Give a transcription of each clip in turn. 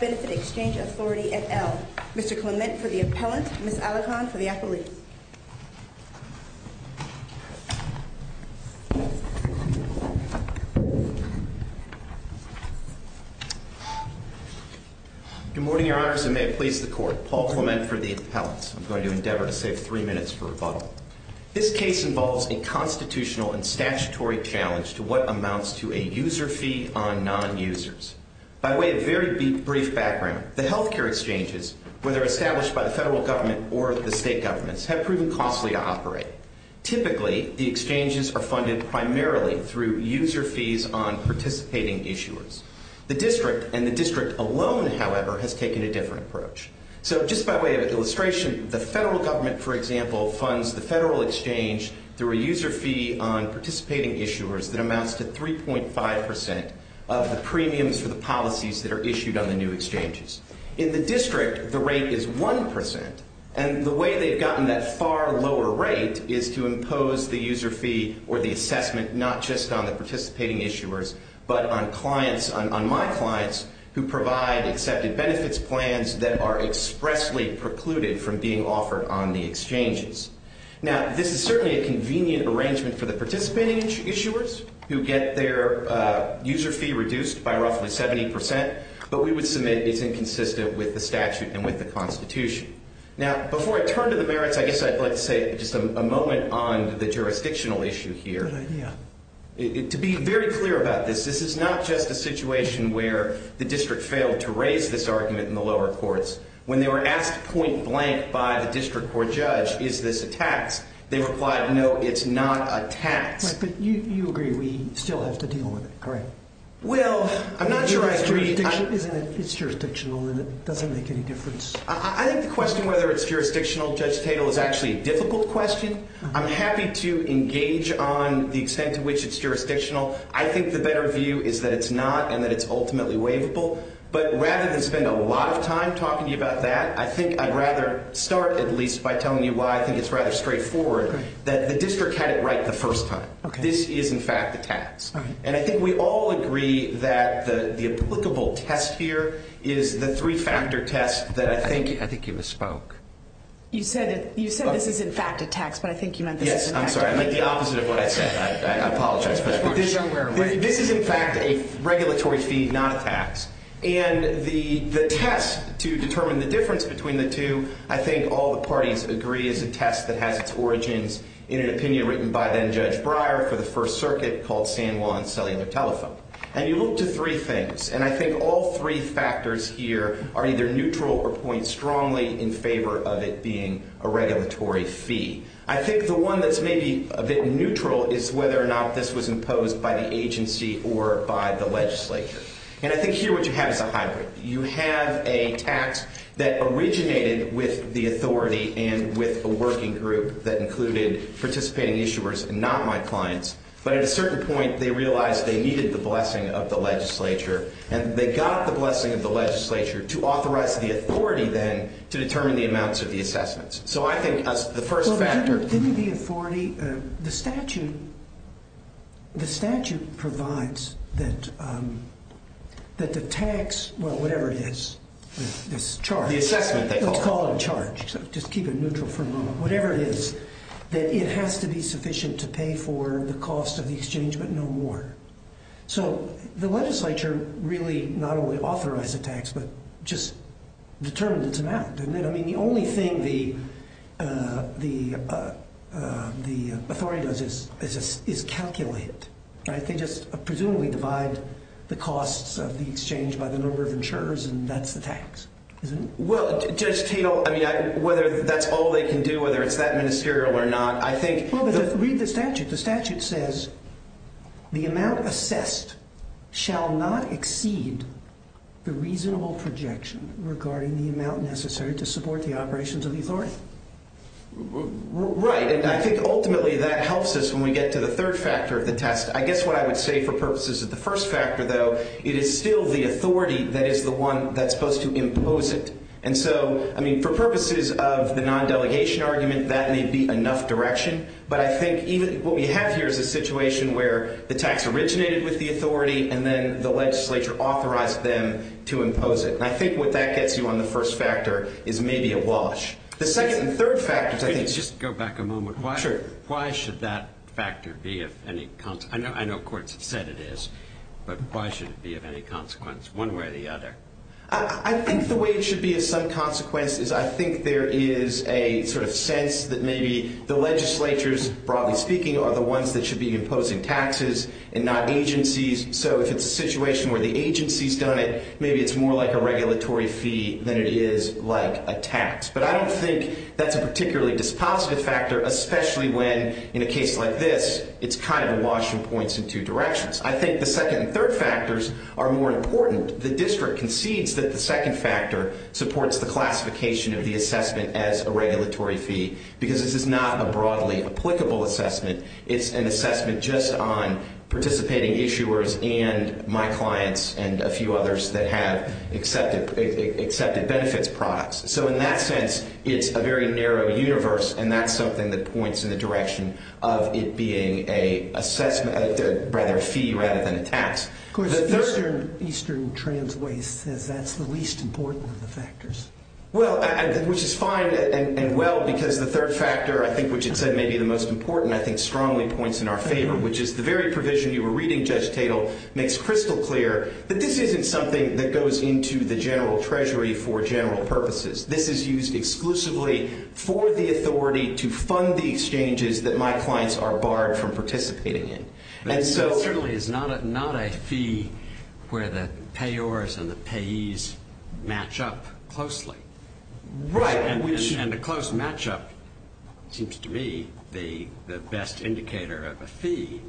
Benefit Exchange Authority, et al. Mr. Clement for the appellant, Ms. Alecant for the appellate. Good morning, Your Honors, and may it please the Court. Paul Clement for the appellant. I'm going to endeavor to save three minutes for rebuttal. This case involves a case involving a constitutional and statutory challenge to what amounts to a user fee on non-users. By way of very brief background, the health care exchanges, whether established by the federal government or the state governments, have proven costly to operate. Typically, the exchanges are funded primarily through user fees on participating issuers. The district and the district alone, however, has taken a different approach. So just by way of an example, there's a user fee on participating issuers that amounts to 3.5 percent of the premiums for the policies that are issued on the new exchanges. In the district, the rate is 1 percent, and the way they've gotten that far lower rate is to impose the user fee or the assessment not just on the participating issuers, but on clients, on my clients, who provide accepted benefits plans that are expressly precluded from being offered on the exchanges. Now, this is certainly a convenient arrangement for the participating issuers who get their user fee reduced by roughly 70 percent, but we would submit it's inconsistent with the statute and with the Constitution. Now, before I turn to the merits, I guess I'd like to say just a moment on the jurisdictional issue here. Good idea. To be very clear about this, this is not just a situation where the district failed to raise this argument in the lower courts. When they were asked point blank by the district court judge, is this a tax, they replied, no, it's not a tax. Right, but you agree we still have to deal with it, correct? Well, I'm not sure I agree. It's jurisdictional and it doesn't make any difference. I think the question whether it's jurisdictional, Judge Tatel, is actually a difficult question. I'm happy to engage on the extent to which it's jurisdictional. I think the better view is that it's not and that it's ultimately waivable, but rather than spend a lot of time talking to you about that, I think I'd rather start at least by telling you why I think it's rather straightforward that the district had it right the first time. This is, in fact, a tax. And I think we all agree that the applicable test here is the three-factor test that I think... I think you misspoke. You said this is, in fact, a tax, but I think you meant... Yes, I'm sorry. I meant the opposite of what I said. I apologize, but this is, in fact, a regulatory fee, not a tax. And the test to determine the difference between the two, I think all the parties agree is a test that has its origins in an opinion written by then Judge Breyer for the First Circuit called San Juan Cellular Telephone. And you look to three things, and I think all three factors here are either neutral or point strongly in favor of it being a regulatory fee. I think the one that's maybe a bit neutral is whether or not this was imposed by the agency or by the legislature. And I think here what you have is a hybrid. You have a tax that originated with the authority and with a working group that included participating issuers and not my clients. But at a certain point they realized they needed the blessing of the legislature, and they got the blessing of the legislature to authorize the authority then to determine the amounts of the assessments. So I think the first factor... Didn't the authority, the statute, the statute provides that the tax, well, whatever it is, this charge... The assessment they call it. Let's call it a charge. Just keep it neutral for a moment. Whatever it is, that it has to be sufficient to pay for the cost of the exchange, but no more. So the legislature really not only authorized the tax, but just determined its amount, didn't it? I mean, the only thing the authority does is calculate, right? They just presumably divide the costs of the exchange by the number of insurers, and that's the tax, isn't it? Well, Judge Tatel, I mean, whether that's all they can do, whether it's that ministerial or not, I think... Well, but read the statute. The statute says, the amount assessed shall not exceed the reasonable projection regarding the amount necessary to support the operations of the authority. Right, and I think ultimately that helps us when we get to the third factor of the test. I guess what I would say for purposes of the first factor, though, it is still the authority that is the one that's supposed to impose it. And so, I mean, for purposes of the non-delegation argument, that may be enough direction, but I think even what we have here is a situation where the tax originated with the authority, and then the legislature authorized them to impose it. And I think what that gets you on the first factor is maybe a wash. The second and third factors, I think... Wait, just go back a moment. Sure. Why should that factor be of any consequence? I know courts have said it is, but why should it be of any consequence, one way or the other? I think the way it should be of some consequence is I think there is a sort of sense that maybe the legislatures, broadly speaking, are the ones that should be imposing taxes and not agencies. So if it's a situation where the agency's done it, maybe it's more like a regulatory fee than it is like a tax. But I don't think that's a particularly dispositive factor, especially when, in a case like this, it's kind of a wash and points in two directions. I think the second and third factors are more important. The district concedes that the second factor supports the classification of the assessment as a regulatory fee, because this is not a broadly applicable assessment. It's an assessment just on participating issuers and my clients and a few others that have accepted benefits products. So in that sense, it's a very narrow universe, and that's something that points in the direction of it being a fee rather than a tax. Of course, Eastern Trans Waste says that's the least important of the factors. Well, which is fine and well, because the third factor, I think, which it said may be the most important, I think strongly points in our favor, which is the very provision you were reading, Judge Tatel, makes crystal clear that this isn't something that goes into the general treasury for general purposes. This is used exclusively for the authority to fund the exchanges that my clients are barred from participating in. It certainly is not a fee where the payors and the payees match up closely. Right. And a close matchup seems to me the best indicator of a fee.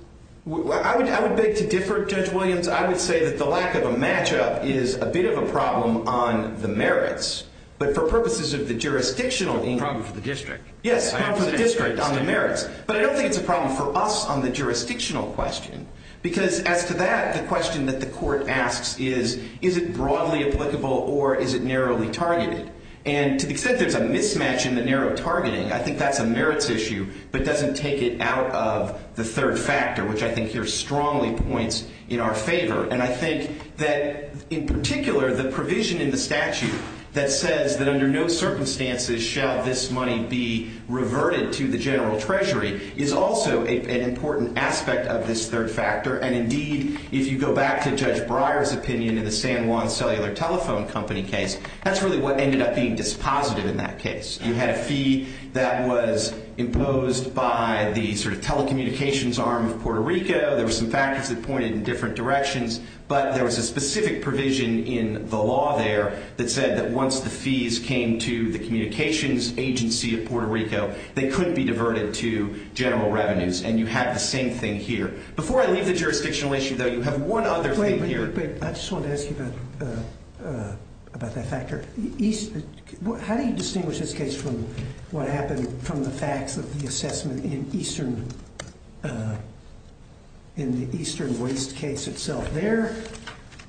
I would beg to differ, Judge Williams. I would say that the lack of a matchup is a bit of a problem on the merits, but for purposes of the jurisdictional... It's a problem for the district. Yes, for the district on the merits. But I don't think it's a problem for us on the jurisdictional question, because as to that, the question that the court asks is, is it broadly applicable or is it narrowly targeted? And to the extent there's a mismatch in the narrow targeting, I think that's a merits issue, but doesn't take it out of the third factor, which I think here strongly points in our favor. And I think that, in particular, the provision in the statute that says that the fee reverted to the general treasury is also an important aspect of this third factor. And indeed, if you go back to Judge Breyer's opinion in the San Juan Cellular Telephone Company case, that's really what ended up being dispositive in that case. You had a fee that was imposed by the telecommunications arm of Puerto Rico. There were some factors that pointed in different directions, but there was a specific provision in the law there that said that once the fees came to the communications agency of Puerto Rico, they couldn't be diverted to general revenues. And you have the same thing here. Before I leave the jurisdictional issue, though, you have one other thing here. Wait, wait, wait. I just wanted to ask you about that factor. How do you distinguish this case from what happened from the facts of the assessment in the Eastern Waste case itself? There,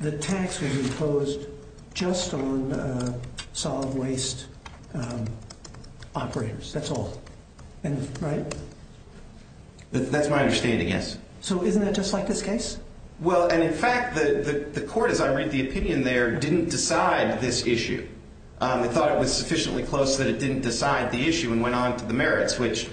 the tax was imposed just on solid waste operators. That's all. Right? That's my understanding, yes. So isn't that just like this case? Well, and in fact, the court, as I read the opinion there, didn't decide this issue. It thought it was sufficiently close that it didn't decide the issue and went on to the merits, which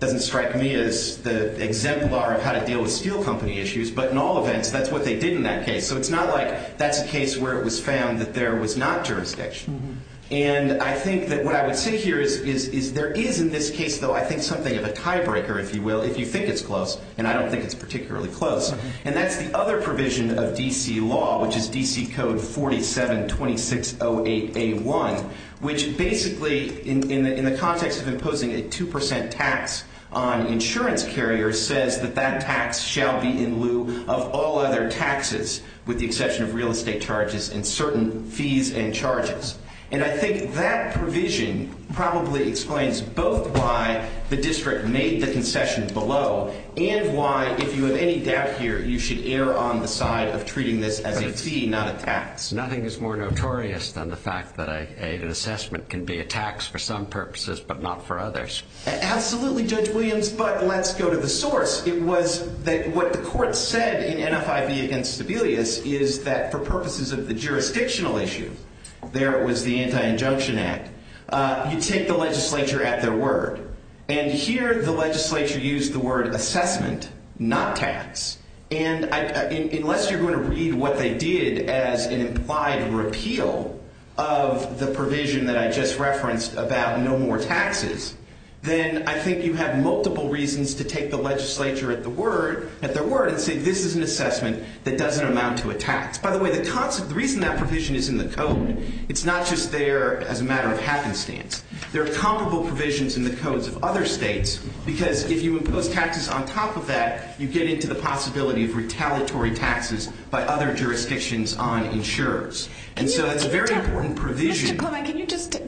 doesn't strike me as the exemplar of how to deal with steel company issues, but in all events, that's what they did in that case. So it's not like that's a case where it was found that there was not jurisdiction. And I think that what I would say here is there is in this case, though, I think something of a tiebreaker, if you will, if you think it's close, and I don't think it's particularly close. And that's the other provision of D.C. law, which is D.C. Code 47-2608A1, which basically, in the context of imposing a 2 percent tax on insurance carriers, says that that tax shall be in lieu of all other taxes, with the exception of real estate charges and certain fees and charges. And I think that provision probably explains both why the district made the concession below and why, if you have any doubt here, you should err on the side of treating this as a fee, not a tax. Nothing is more notorious than the fact that an assessment can be a tax for some purposes but not for others. Absolutely, Judge Williams, but let's go to the source. It was that what the court said in NFIB against Sebelius is that for purposes of the jurisdictional issue, there was the Anti-Injunction Act, you take the legislature at their word. And here the legislature used the word assessment, not tax. And unless you're going to read what they did as an implied repeal of the provision that I just referenced about no more taxes, then I think you have multiple reasons to take the legislature at their word and say this is an assessment that doesn't amount to a tax. By the way, the reason that provision is in the code, it's not just there as a matter of happenstance. There are comparable provisions in the codes of other states because if you impose taxes on top of that, you get into the possibility of retaliatory taxes by other jurisdictions on insurers. And so it's a very important provision. Mr. Clement, can you just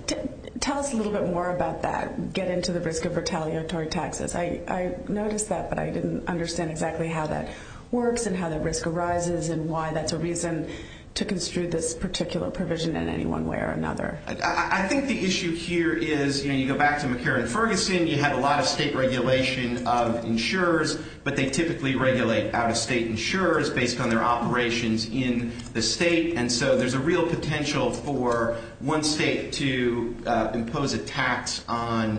tell us a little bit more about that, get into the risk of retaliatory taxes? I noticed that, but I didn't understand exactly how that works and how that risk arises and why that's a reason to construe this particular provision in any one way or another. I think the issue here is, you know, you go back to McCarran-Ferguson, you have a lot of state regulation of insurers, but they typically regulate out-of-state insurers based on their operations in the state. And so there's a real potential for one state to impose a tax on,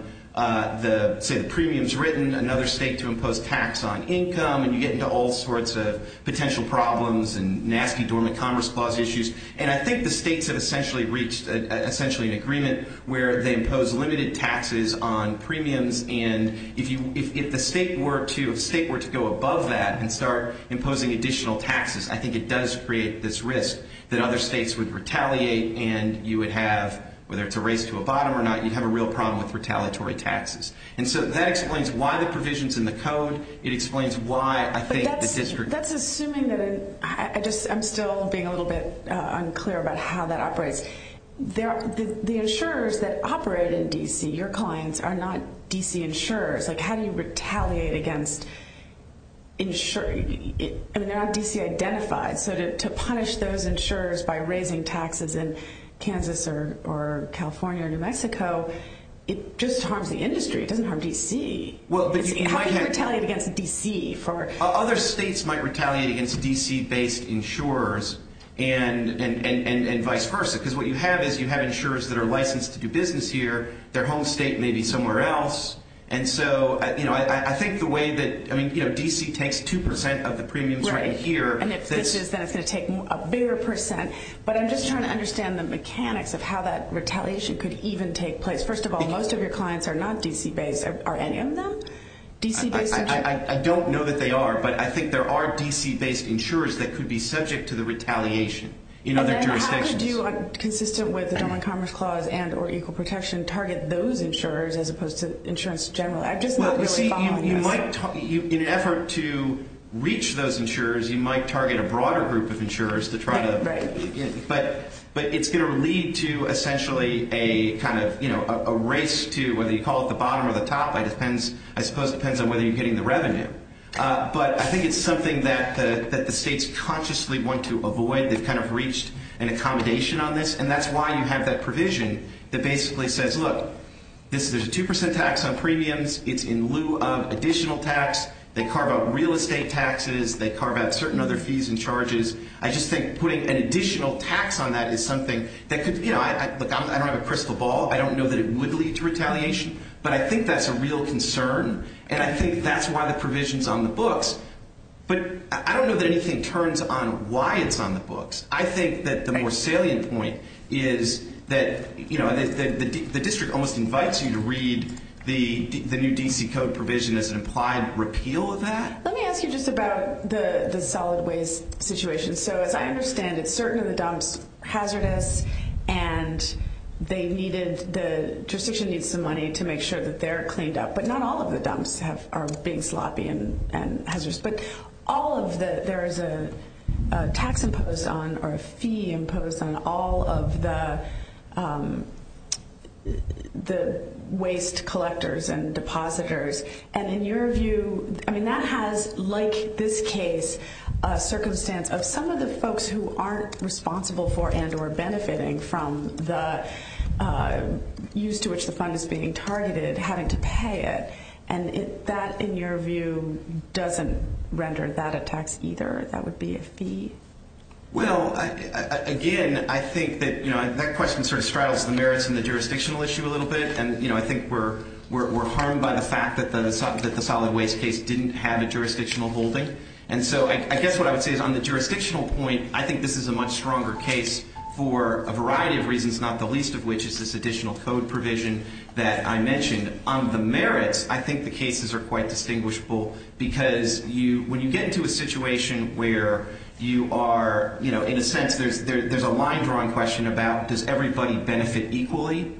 say, the premiums written, another state to impose tax on income, and you get into all sorts of potential problems and nasty dormant commerce clause issues. And I think the states have essentially reached essentially an agreement where they impose limited taxes on premiums. And if the state were to go above that and start imposing additional taxes, I think it does create this risk that other states would retaliate and you would have, whether it's a race to a bottom or not, you'd have a real problem with retaliatory taxes. And so that explains why the provision's in the code. It explains why I think the district... But that's assuming that... I'm still being a little bit unclear about how that operates. The insurers that operate in D.C., your clients, are not D.C. insurers. How do you retaliate against... I mean, they're not D.C. identified. So to punish those insurers by raising taxes in Kansas or California or New Mexico, it just harms the industry. It doesn't harm D.C. How do you retaliate against D.C.? Other states might retaliate against D.C.-based insurers and vice versa, because what you have is you have insurers that are licensed to do business here, their home state may be somewhere else. And so I think the way that... D.C. takes 2% of the premiums right here. And if this is, then it's going to take a bigger percent. But I'm just trying to understand the mechanics of how that retaliation could even take place. First of all, most of your clients are not D.C.-based. Are any of them D.C.-based insurers? I don't know that they are, but I think there are D.C.-based insurers that could be subject to the retaliation in other jurisdictions. And how could you, consistent with the Domain Commerce Clause and or Equal Protection, target those insurers as opposed to insurance generally? I just know that you're responding to this. In an effort to reach those insurers, you might target a broader group of insurers to try to... Right, right. But it's going to lead to essentially a kind of, you know, a race to whether you call it the bottom or the top. I suppose it depends on whether you're getting the revenue. But I think it's something that the states consciously want to avoid. They've kind of reached an accommodation on this, and that's why you have that provision that basically says, look, there's a 2% tax on premiums. It's in lieu of additional tax. They carve out real estate taxes. They carve out certain other fees and charges. I just think putting an additional tax on that is something that could, you know, I don't have a crystal ball. I don't know that it would lead to retaliation, but I think that's a real concern, and I think that's why the provision's on the books. But I don't know that anything turns on why it's on the books. I think that the more salient point is that, you know, the district almost invites you to read the new D.C. Code provision as an implied repeal of that. Let me ask you just about the solid waste situation. So as I understand it, certain of the dumps hazardous, and they needed, the jurisdiction needs some money to make sure that they're cleaned up. But not all of the dumps are being sloppy and hazardous. But all of the, there is a tax imposed on or a fee imposed on all of the waste collectors and depositors. And in your view, I mean, that has, like this case, a circumstance of some of the folks who aren't responsible for and or benefiting from the use to which the fund is being targeted having to pay it. And that, in your view, doesn't render that a tax either. That would be a fee. Well, again, I think that, you know, that question sort of straddles the merits and the jurisdictional issue a little bit. And, you know, I think we're harmed by the fact that the solid waste case didn't have a jurisdictional holding. And so I guess what I would say is on the jurisdictional point, I think this is a much stronger case for a variety of reasons, not the least of which is this additional code provision that I mentioned. On the merits, I think the cases are quite distinguishable because you, when you get into a situation where you are, you know, in a sense, there's a line drawing question about does everybody benefit equally.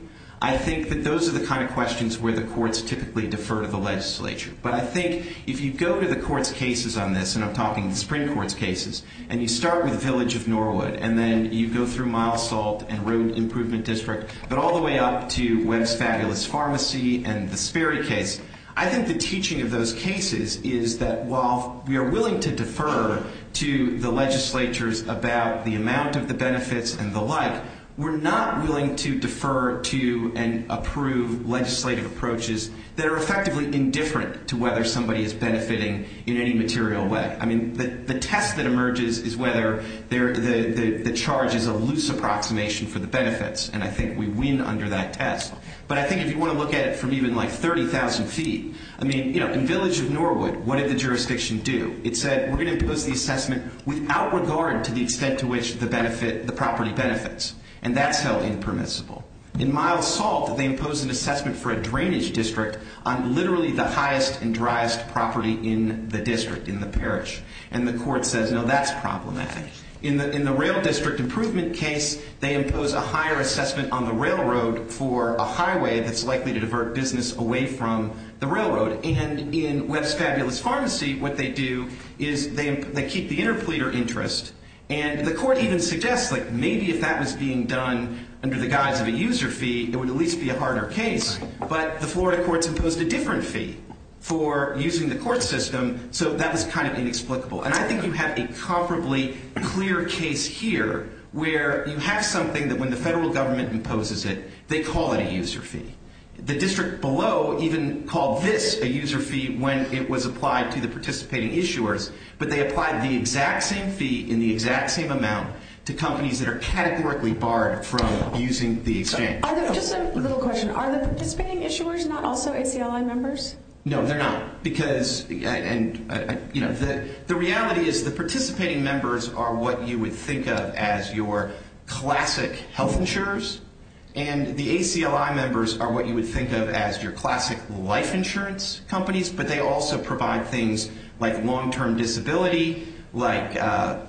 I think that those are the kind of questions where the courts typically defer to the legislature. But I think if you go to the court's cases on this, and I'm talking the Supreme Court's cases, and you start with Village of Norwood, and then you go through Mile Salt and Road Improvement District, but all the way up to Webb's Fabulous Pharmacy and the Sperry case, I think the teaching of those cases is that while we are willing to defer to the legislatures about the amount of the benefits and the like, we're not willing to defer to and approve legislative approaches that are effectively indifferent to whether somebody is benefiting in any material way. I mean, the test that emerges is whether the charge is a loose approximation for the benefits. And I think we win under that test. But I think if you want to look at it from even like 30,000 feet, I mean, you know, in Village of Norwood, what did the jurisdiction do? It said, we're going to impose the assessment without regard to the extent to which the benefit, the property benefits. And that's held impermissible. In Mile Salt, they imposed an assessment for a drainage district on literally the highest and driest property in the district, in the parish. And the court says, no, that's problematic. In the Rail District Improvement case, they impose a higher assessment on the railroad for a highway that's likely to divert business away from the railroad. And in Webb's Fabulous Pharmacy, what they do is they keep the interpleader interest. And the court even suggests, like, maybe if that was being done under the guise of a user fee, it would at least be a harder case. But the Florida courts imposed a different fee for using the court system. So that was kind of inexplicable. And I think you have a comparably clear case here where you have something that when the federal government imposes it, they call it a user fee. The district below even called this a user fee when it was applied to the participating issuers. But they applied the exact same fee in the exact same amount to companies that are categorically barred from using the exchange. Just a little question. Are the participating issuers not also ACLI members? No, they're not. Because, you know, the reality is the participating members are what you would think of as your classic health insurers. And the ACLI members are what you would think of as your classic life insurance companies. But they also provide things like long-term disability, like,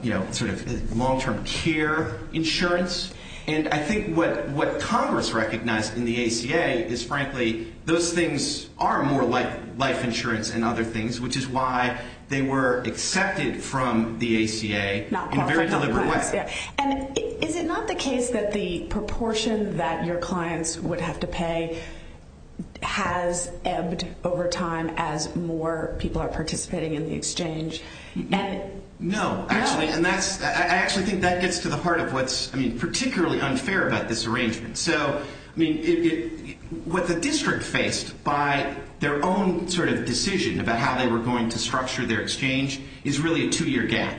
you know, sort of long-term care insurance. And I think what Congress recognized in the ACA is, frankly, those things are more like life insurance and other things, which is why they were accepted from the ACA in a very deliberate way. And is it not the case that the proportion that your clients would have to pay has ebbed over time as more people are participating in the exchange? No. I actually think that gets to the heart of what's, I mean, particularly unfair about this arrangement. So, I mean, what the district faced by their own sort of decision about how they were going to structure their exchange is really a two-year gap.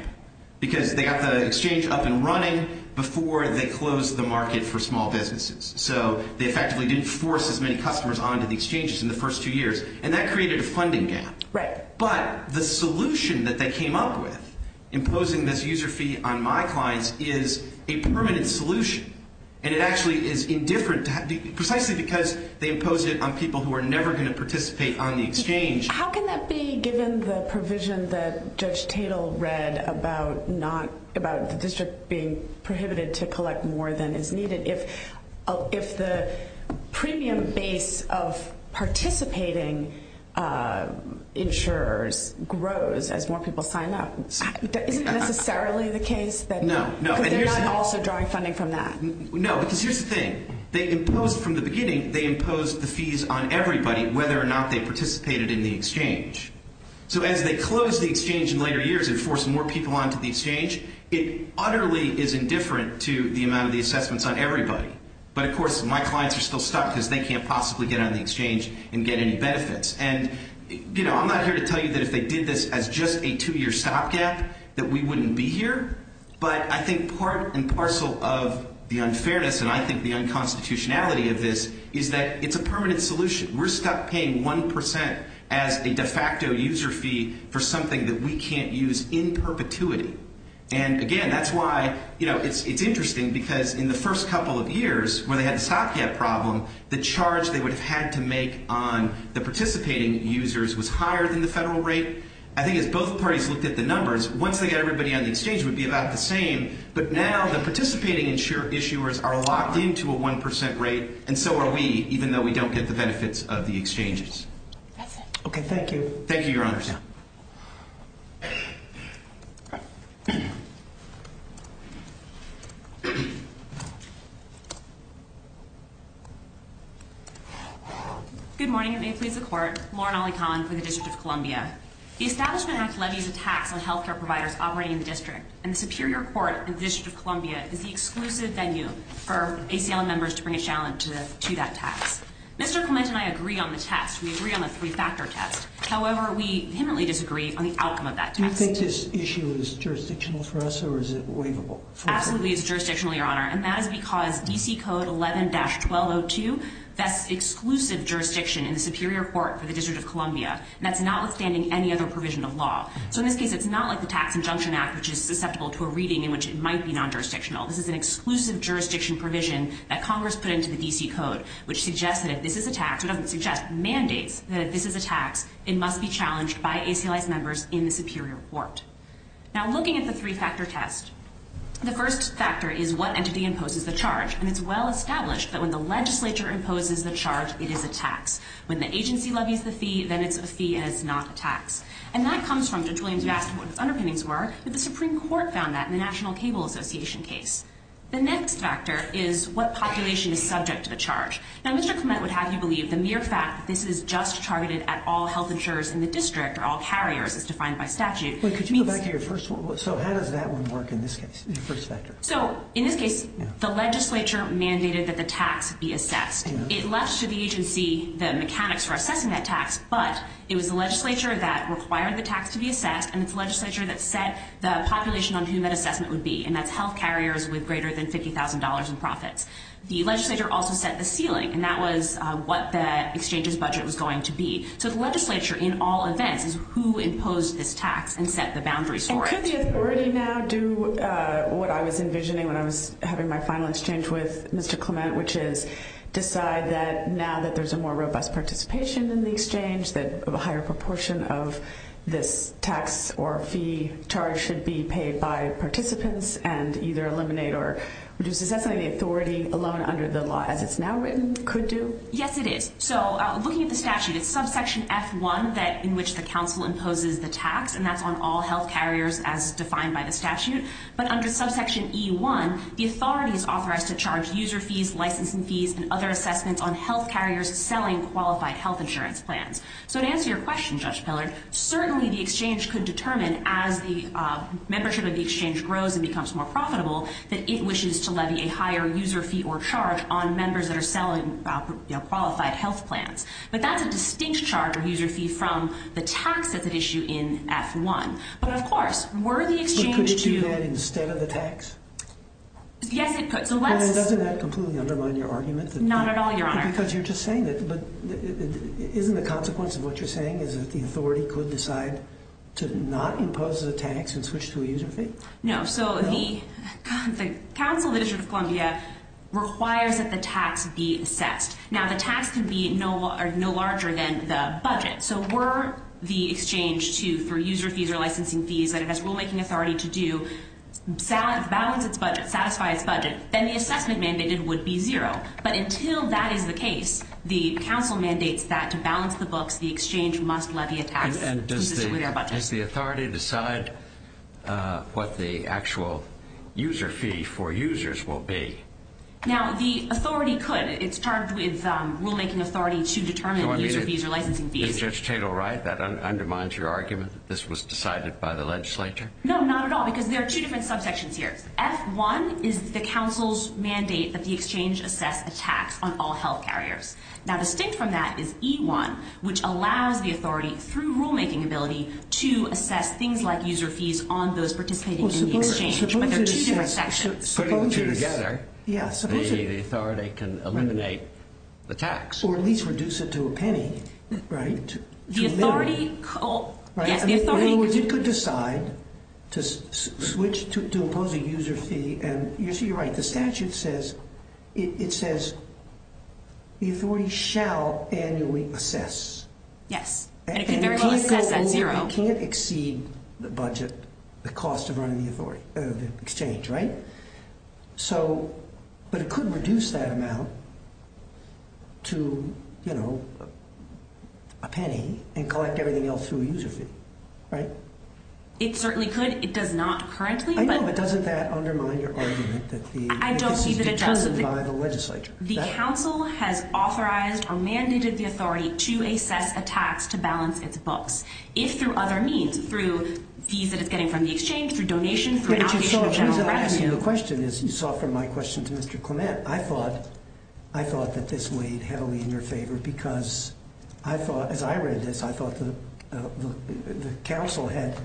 Because they got the exchange up and running before they closed the market for small businesses. So they effectively didn't force as many customers onto the exchanges in the first two years. And that created a funding gap. Right. But the solution that they came up with, imposing this user fee on my clients, is a permanent solution. And it actually is indifferent, precisely because they imposed it on people who are never going to participate on the exchange. How can that be, given the provision that Judge Tatel read about the district being prohibited to collect more than is needed? If the premium base of participating insurers grows as more people sign up, isn't that necessarily the case? No. Because they're not also drawing funding from that. No. Because here's the thing. They imposed, from the beginning, they imposed the fees on everybody, whether or not they participated in the exchange. So as they closed the exchange in later years and forced more people onto the exchange, it utterly is indifferent to the amount of the assessments on everybody. But, of course, my clients are still stuck because they can't possibly get on the exchange and get any benefits. And, you know, I'm not here to tell you that if they did this as just a two-year stopgap that we wouldn't be here. But I think part and parcel of the unfairness, and I think the unconstitutionality of this, is that it's a permanent solution. We're stuck paying 1% as a de facto user fee for something that we can't use in perpetuity. And, again, that's why, you know, it's interesting because in the first couple of years, when they had the stopgap problem, the charge they would have had to make on the participating users was higher than the federal rate. I think as both parties looked at the numbers, once they got everybody on the exchange, it would be about the same. But now the participating issuers are locked into a 1% rate, and so are we, even though we don't get the benefits of the exchanges. Okay. Thank you. Thank you, Your Honors. Okay. Good morning. It may please the Court. Lauren Ali-Conlon for the District of Columbia. The Establishment Act levies a tax on health care providers operating in the District, and the Superior Court in the District of Columbia is the exclusive venue for ACL members to bring a challenge to that tax. Mr. Clement and I agree on the test. We agree on the three-factor test. However, we vehemently disagree on the outcome of that test. Do you think this issue is jurisdictional for us, or is it waivable for us? Absolutely, it's jurisdictional, Your Honor, and that is because D.C. Code 11-1202 vests exclusive jurisdiction in the Superior Court for the District of Columbia, and that's notwithstanding any other provision of law. So in this case, it's not like the Tax Injunction Act, which is susceptible to a reading in which it might be non-jurisdictional. This is an exclusive jurisdiction provision that Congress put into the D.C. Code, which suggests that if this is a tax, or doesn't suggest, mandates that this is a tax, it must be challenged by ACLI's members in the Superior Court. Now, looking at the three-factor test, the first factor is what entity imposes the charge, and it's well established that when the legislature imposes the charge, it is a tax. When the agency levies the fee, then it's a fee and it's not a tax. And that comes from Judge Williams who asked what his underpinnings were, but the Supreme Court found that in the National Cable Association case. The next factor is what population is subject to the charge. Now, Mr. Clement would have you believe the mere fact that this is just targeted at all health insurers in the district, or all carriers, as defined by statute. Wait, could you go back to your first one? So how does that one work in this case, the first factor? So in this case, the legislature mandated that the tax be assessed. It left to the agency the mechanics for assessing that tax, but it was the legislature that required the tax to be assessed, and it's the legislature that set the population on whom that assessment would be, and that's health carriers with greater than $50,000 in profits. The legislature also set the ceiling, and that was what the exchange's budget was going to be. So the legislature, in all events, is who imposed this tax and set the boundaries for it. And could the authority now do what I was envisioning when I was having my final exchange with Mr. Clement, which is decide that now that there's a more robust participation in the exchange, that a higher proportion of this tax or fee charge should be paid by participants, and either eliminate or leave alone under the law as it's now written, could do? Yes, it is. So looking at the statute, it's subsection F1 in which the council imposes the tax, and that's on all health carriers as defined by the statute. But under subsection E1, the authority is authorized to charge user fees, licensing fees, and other assessments on health carriers selling qualified health insurance plans. So to answer your question, Judge Pillard, certainly the exchange could determine as the membership of the exchange grows and becomes more on members that are selling qualified health plans. But that's a distinct charge or user fee from the tax that's at issue in F1. But, of course, were the exchange to- But could it do that instead of the tax? Yes, it could. So let's- And doesn't that completely undermine your argument that- Not at all, Your Honor. Because you're just saying that, but isn't the consequence of what you're saying is that the authority could decide to not impose the tax and switch to a user fee? No. So the Council of the District of Columbia requires that the tax be assessed. Now, the tax can be no larger than the budget. So were the exchange to-for user fees or licensing fees that it has rulemaking authority to do, balance its budget, satisfy its budget, then the assessment mandated would be zero. But until that is the case, the Council mandates that to balance the books, the exchange must levy a tax consistent with their budget. Does the authority decide what the actual user fee for users will be? Now, the authority could. It's charged with rulemaking authority to determine the user fees or licensing fees. Is Judge Tatel right? That undermines your argument that this was decided by the legislature? No, not at all. Because there are two different subsections here. F1 is the Council's mandate that the exchange assess a tax on all health carriers. Now, distinct from that is E1, which allows the authority, through rulemaking ability, to assess things like user fees on those participating in the exchange. But there are two different sections. Supposing together the authority can eliminate the tax. Or at least reduce it to a penny, right? The authority could decide to switch to impose a user fee. You're right. The statute says it says the authority shall annually assess. Yes. And it can very well assess at zero. It can't exceed the budget, the cost of running the exchange, right? So, but it could reduce that amount to, you know, a penny and collect everything else through a user fee, right? It certainly could. It does not currently. I know, but doesn't that undermine your argument that this is determined by the legislature? The Council has authorized or mandated the authority to assess a tax to balance its books. If through other means, through fees that it's getting from the exchange, through donations, through allocation of general revenue. The question is, you saw from my question to Mr. Clement, I thought that this weighed heavily in your favor because I thought, as I read this, I thought the Council had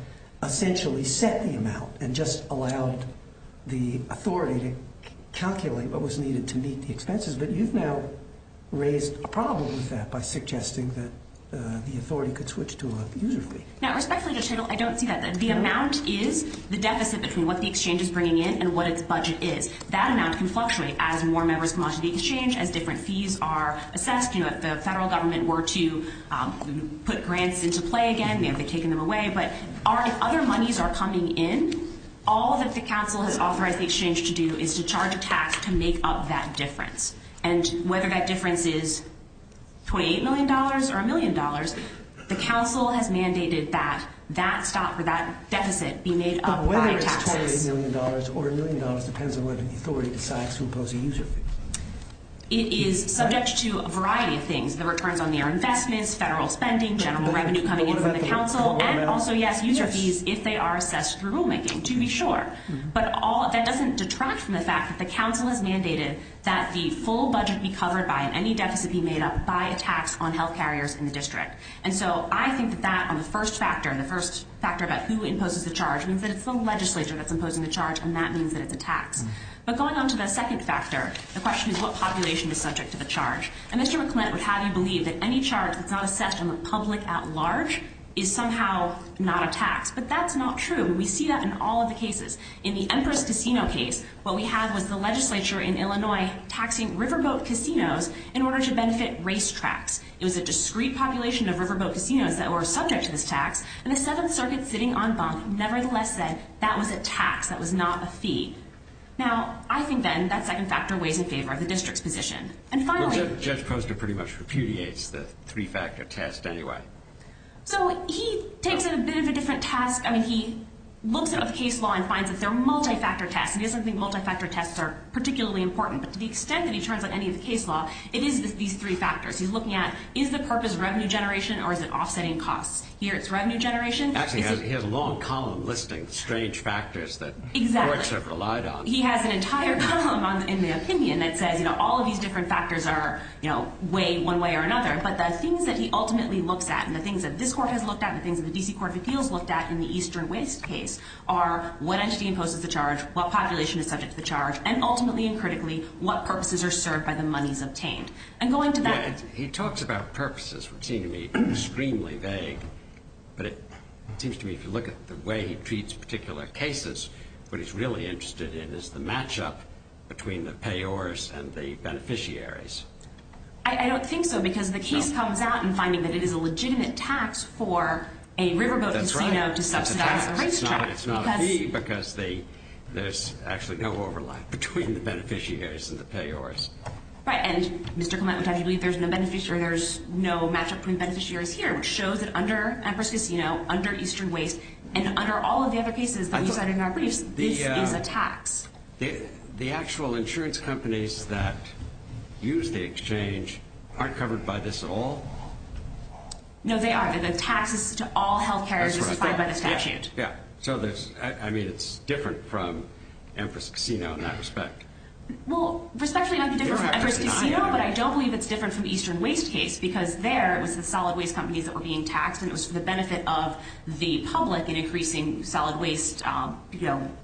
essentially set the amount and just allowed the authority to assess. But you've now raised a problem with that by suggesting that the authority could switch to a user fee. Now, respectfully, I don't see that. The amount is the deficit between what the exchange is bringing in and what its budget is. That amount can fluctuate as more members come onto the exchange, as different fees are assessed. You know, if the federal government were to put grants into play again, they'd be taking them away. But if other monies are coming in, all that the Council has authorized the And whether that difference is $28 million or $1 million, the Council has mandated that that deficit be made up by taxes. But whether it's $28 million or $1 million depends on whether the authority decides to impose a user fee. It is subject to a variety of things, the returns on their investments, federal spending, general revenue coming in from the Council, and also, yes, user fees if they are assessed through rulemaking, to be sure. But that doesn't detract from the fact that the Council has mandated that the full budget be covered by, and any deficit be made up by, a tax on health carriers in the district. And so I think that that, on the first factor, the first factor about who imposes the charge, means that it's the legislature that's imposing the charge, and that means that it's a tax. But going on to the second factor, the question is, what population is subject to the charge? And Mr. McClint would have you believe that any charge that's not assessed from the public at large is somehow not a tax. But that's not true. We see that in all of the cases. In the Empress Casino case, what we have was the legislature in Illinois taxing riverboat casinos in order to benefit racetracks. It was a discrete population of riverboat casinos that were subject to this tax, and the Seventh Circuit, sitting on bunk, nevertheless said that was a tax, that was not a fee. Now, I think then that second factor weighs in favor of the district's position. And finally – Well, Judge Poster pretty much repudiates the three-factor test anyway. So he takes it a bit of a different task. I mean, he looks at the case law and finds that they're multi-factor tests. He doesn't think multi-factor tests are particularly important. But to the extent that he turns on any of the case law, it is these three factors. He's looking at, is the purpose revenue generation or is it offsetting costs? Here it's revenue generation. Actually, he has a long column listing strange factors that courts have relied on. Exactly. He has an entire column in the opinion that says, you know, all of these different factors are, you know, weighed one way or another. But the things that he ultimately looks at and the things that this court has looked at in the Eastern Waste case are what entity imposes the charge, what population is subject to the charge, and ultimately and critically, what purposes are served by the monies obtained. And going to that – He talks about purposes, which seem to me extremely vague. But it seems to me if you look at the way he treats particular cases, what he's really interested in is the matchup between the payors and the beneficiaries. I don't think so because the case comes out in finding that it is a legitimate tax for a riverboat casino to subsidize a race track. That's right. It's not a fee because there's actually no overlap between the beneficiaries and the payors. Right. And Mr. Clement would have you believe there's no matchup between beneficiaries here, which shows that under Amherst Casino, under Eastern Waste, and under all of the other cases that we cited in our briefs, this is a tax. The actual insurance companies that use the exchange aren't covered by this at all? No, they are. The taxes to all health care are just defined by the statute. Yeah. So, I mean, it's different from Amherst Casino in that respect. Well, respectfully, it might be different from Amherst Casino, but I don't believe it's different from Eastern Waste case because there it was the solid waste companies that were being taxed, and it was for the benefit of the public in increasing solid waste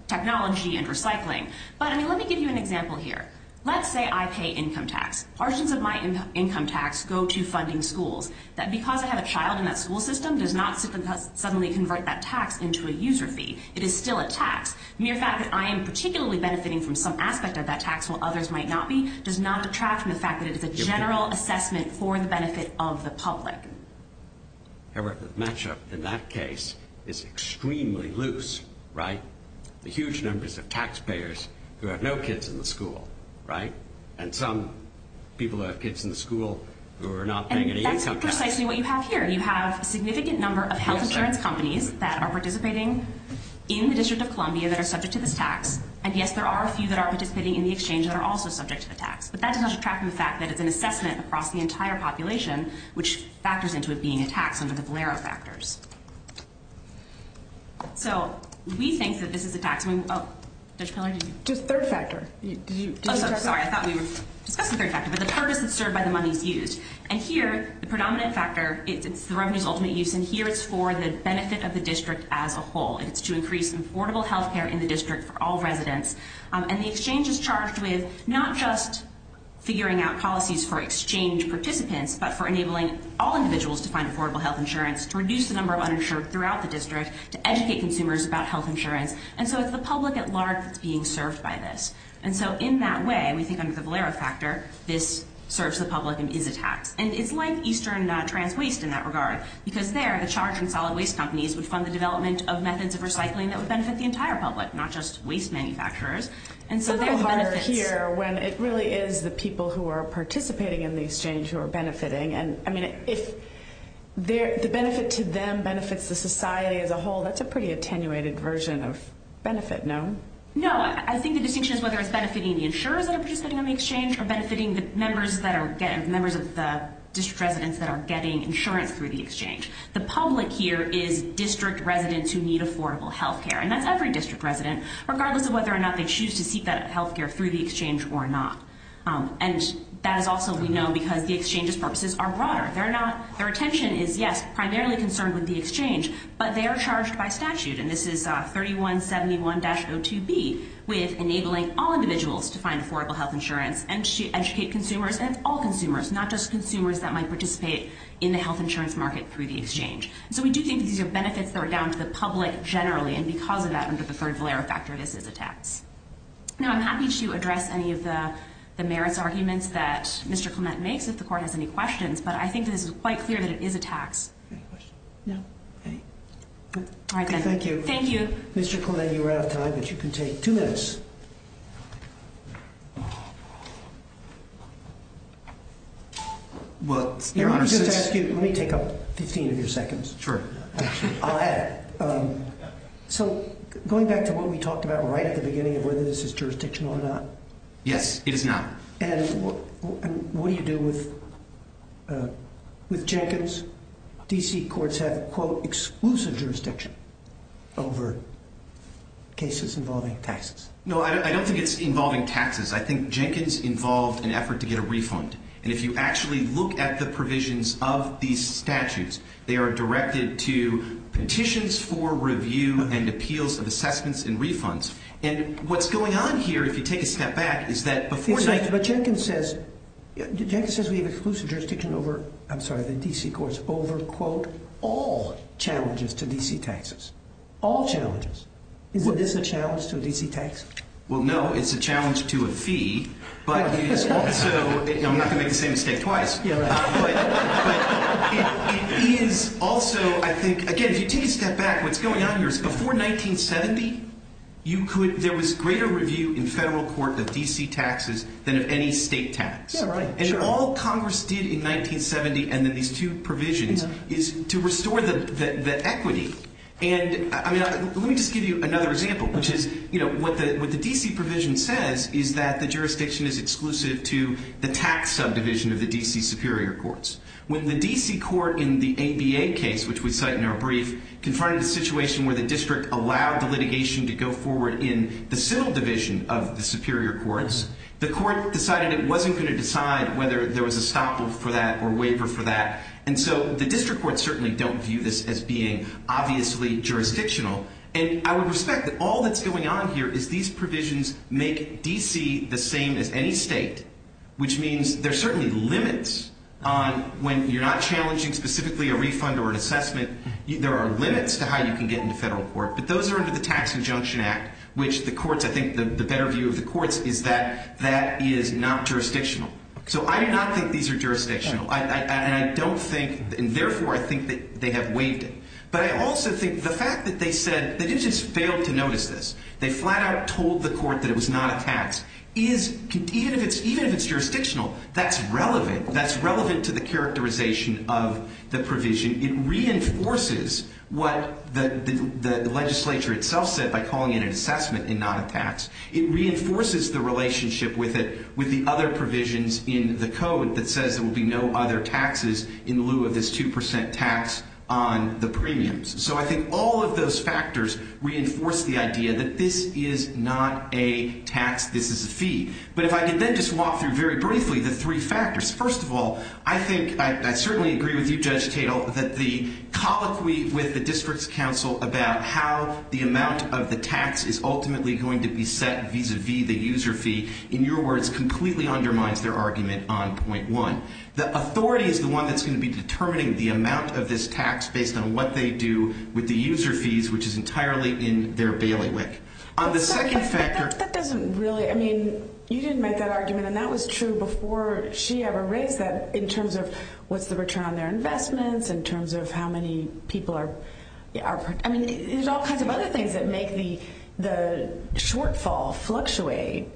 technology and recycling. But, I mean, let me give you an example here. Let's say I pay income tax. Portions of my income tax go to funding schools. That because I have a child in that school system does not suddenly convert that tax into a user fee. It is still a tax. Mere fact that I am particularly benefiting from some aspect of that tax while others might not be does not detract from the fact that it is a general assessment for the benefit of the public. However, the matchup in that case is extremely loose, right? The huge numbers of taxpayers who have no kids in the school, right? And some people who have kids in the school who are not paying any income tax. And that's precisely what you have here. You have a significant number of health insurance companies that are participating in the District of Columbia that are subject to this tax. And, yes, there are a few that are participating in the exchange that are also subject to the tax. But that does not detract from the fact that it's an assessment across the entire population which factors into it being a tax under the Valero factors. So, we think that this is a tax. Oh, Judge Pillard, did you? Just third factor. Sorry, I thought we were discussing third factor. But the purpose is served by the monies used. And here, the predominant factor, it's the revenues ultimate use. And here it's for the benefit of the district as a whole. It's to increase affordable health care in the district for all residents. And the exchange is charged with not just figuring out policies for exchange participants but for enabling all individuals to find affordable health insurance, to reduce the number of uninsured throughout the district, to educate consumers about health insurance. And so it's the public at large that's being served by this. And so in that way, we think under the Valero factor, this serves the public and is a tax. And it's like Eastern Trans Waste in that regard. Because there, the charge on solid waste companies would fund the development of methods of recycling that would benefit the entire public, not just waste manufacturers. And so there are benefits. It's a little harder here when it really is the people who are participating in the exchange who are benefiting. And, I mean, if the benefit to them benefits the society as a whole, that's a pretty attenuated version of benefit, no? No. I think the distinction is whether it's benefiting the insurers that are participating in the exchange or benefiting the members of the district residents that are getting insurance through the exchange. The public here is district residents who need affordable health care. And that's every district resident, regardless of whether or not they choose to seek that health care through the exchange or not. And that is also, we know, because the exchange's purposes are broader. Their attention is, yes, primarily concerned with the exchange, but they are charged by statute. And this is 3171-02B with enabling all individuals to find affordable health insurance and to educate consumers and all consumers, not just consumers that might participate in the health insurance market through the exchange. So we do think these are benefits that are down to the public generally, and because of that, under the third valera factor, this is a tax. Now, I'm happy to address any of the merits arguments that Mr. Clement makes if the court has any questions, but I think this is quite clear that it is a tax. Any questions? No. All right, then. Thank you. Thank you. Mr. Clement, you're out of time, but you can take two minutes. Well, Your Honor, since- Let me take up 15 of your seconds. Sure. I'll add. So going back to what we talked about right at the beginning of whether this is jurisdictional or not. Yes, it is not. And what do you do with Jenkins? D.C. courts have, quote, exclusive jurisdiction over cases involving taxes. No, I don't think it's involving taxes. I think Jenkins involved an effort to get a refund. And if you actually look at the provisions of these statutes, they are directed to petitions for review and appeals of assessments and refunds. And what's going on here, if you take a step back, is that before- Jenkins says we have exclusive jurisdiction over- I'm sorry, the D.C. courts over, quote, all challenges to D.C. taxes. All challenges. Is this a challenge to D.C. taxes? Well, no. It's a challenge to a fee, but it is also- I'm not going to make the same mistake twice. Yeah, right. But it is also, I think- Again, if you take a step back, what's going on here is before 1970, there was greater review in federal court of D.C. taxes than of any state tax. Yeah, right. And all Congress did in 1970 and in these two provisions is to restore the equity. And let me just give you another example, which is what the D.C. provision says is that the jurisdiction is exclusive to the tax subdivision of the D.C. superior courts. When the D.C. court in the ABA case, which we cite in our brief, confronted a situation where the district allowed the litigation to go forward in the civil division of the superior courts, the court decided it wasn't going to decide whether there was a stop for that or waiver for that. And so the district courts certainly don't view this as being obviously jurisdictional. And I would respect that all that's going on here is these provisions make D.C. the same as any state, which means there are certainly limits on when you're not challenging specifically a refund or an assessment. There are limits to how you can get into federal court, but those are under the Tax Injunction Act, which the courts, I think the better view of the courts is that that is not jurisdictional. So I do not think these are jurisdictional. And I don't think, and therefore I think that they have waived it. But I also think the fact that they said, they just failed to notice this. They flat out told the court that it was not a tax. Even if it's jurisdictional, that's relevant. That's relevant to the characterization of the provision. It reinforces what the legislature itself said by calling it an assessment and not a tax. It reinforces the relationship with it, with the other provisions in the code that says there will be no other taxes in lieu of this 2 percent tax on the premiums. So I think all of those factors reinforce the idea that this is not a tax. This is a fee. But if I could then just walk through very briefly the three factors. First of all, I think, I certainly agree with you, Judge Tatel, that the colloquy with the district's counsel about how the amount of the tax is ultimately going to be set vis-a-vis the user fee, in your words, completely undermines their argument on point one. The authority is the one that's going to be determining the amount of this tax based on what they do with the user fees, which is entirely in their bailiwick. But that doesn't really, I mean, you didn't make that argument and that was true before she ever raised that in terms of what's the return on their investments, in terms of how many people are, I mean, there's all kinds of other things that make the shortfall fluctuate.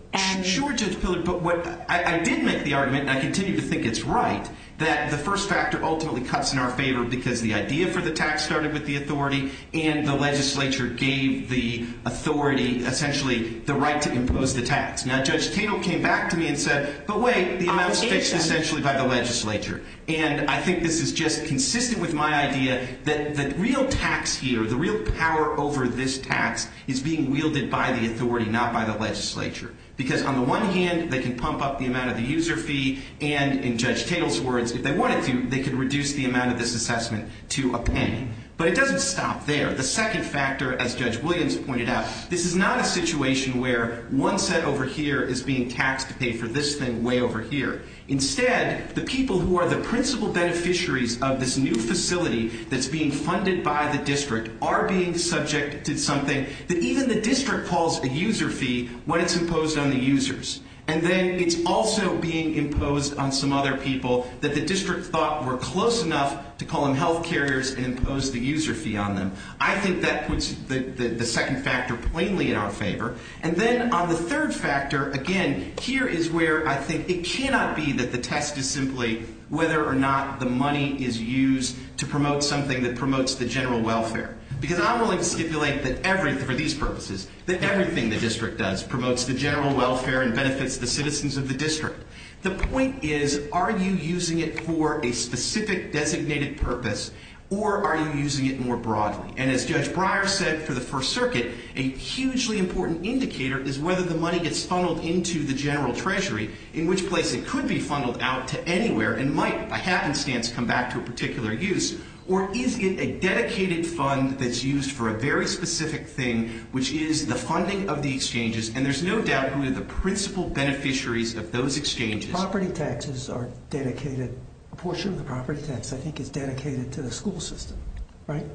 Sure, Judge Pillard, but I did make the argument, and I continue to think it's right, that the first factor ultimately cuts in our favor because the idea for the tax started with the authority and the legislature gave the authority essentially the right to impose the tax. Now, Judge Tatel came back to me and said, but wait, the amount's fixed essentially by the legislature. And I think this is just consistent with my idea that the real tax here, the real power over this tax is being wielded by the authority, not by the legislature. Because on the one hand, they can pump up the amount of the user fee, and in Judge Tatel's words, if they wanted to, they could reduce the amount of this assessment to a penny. But it doesn't stop there. The second factor, as Judge Williams pointed out, this is not a situation where one set over here is being taxed to pay for this thing way over here. Instead, the people who are the principal beneficiaries of this new facility that's being funded by the district are being subject to something that even the district calls a user fee when it's imposed on the users. And then it's also being imposed on some other people that the district thought were close enough to call them health carriers and impose the user fee on them. I think that puts the second factor plainly in our favor. And then on the third factor, again, here is where I think it cannot be that the test is simply whether or not the money is used to promote something that promotes the general welfare. Because I'm willing to stipulate that everything, for these purposes, that everything the district does promotes the general welfare and benefits the citizens of the district. The point is, are you using it for a specific designated purpose, or are you using it more broadly? And as Judge Breyer said for the First Circuit, a hugely important indicator is whether the money gets funneled into the general treasury, in which place it could be funneled out to anywhere and might, by happenstance, come back to a particular use. Or is it a dedicated fund that's used for a very specific thing, which is the funding of the exchanges? And there's no doubt who are the principal beneficiaries of those exchanges. Property taxes are dedicated. A portion of the property tax, I think, is dedicated to the school system, right?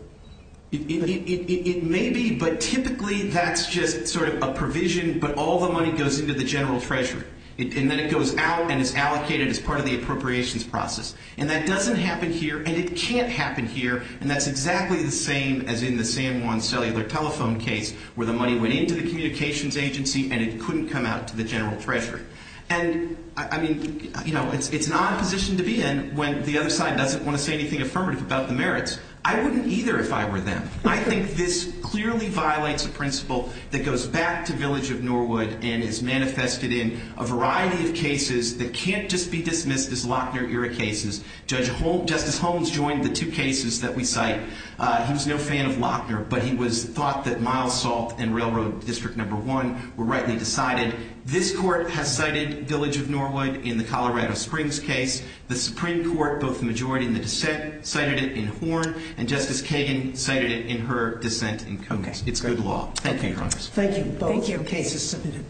It may be, but typically that's just sort of a provision, but all the money goes into the general treasury. And then it goes out and is allocated as part of the appropriations process. And that doesn't happen here, and it can't happen here. And that's exactly the same as in the San Juan cellular telephone case, where the money went into the communications agency and it couldn't come out to the general treasury. And, I mean, you know, it's an odd position to be in when the other side doesn't want to say anything affirmative about the merits. I wouldn't either if I were them. I think this clearly violates a principle that goes back to Village of Norwood and is manifested in a variety of cases that can't just be dismissed as Lochner-era cases. Justice Holmes joined the two cases that we cite. He was no fan of Lochner, but he thought that Mile Salt and Railroad District No. 1 were rightly decided. This Court has cited Village of Norwood in the Colorado Springs case. The Supreme Court, both the majority in the dissent, cited it in Horn, and Justice Kagan cited it in her dissent in Coates. It's good law. Thank you, Your Honors. Thank you. Both your cases submitted.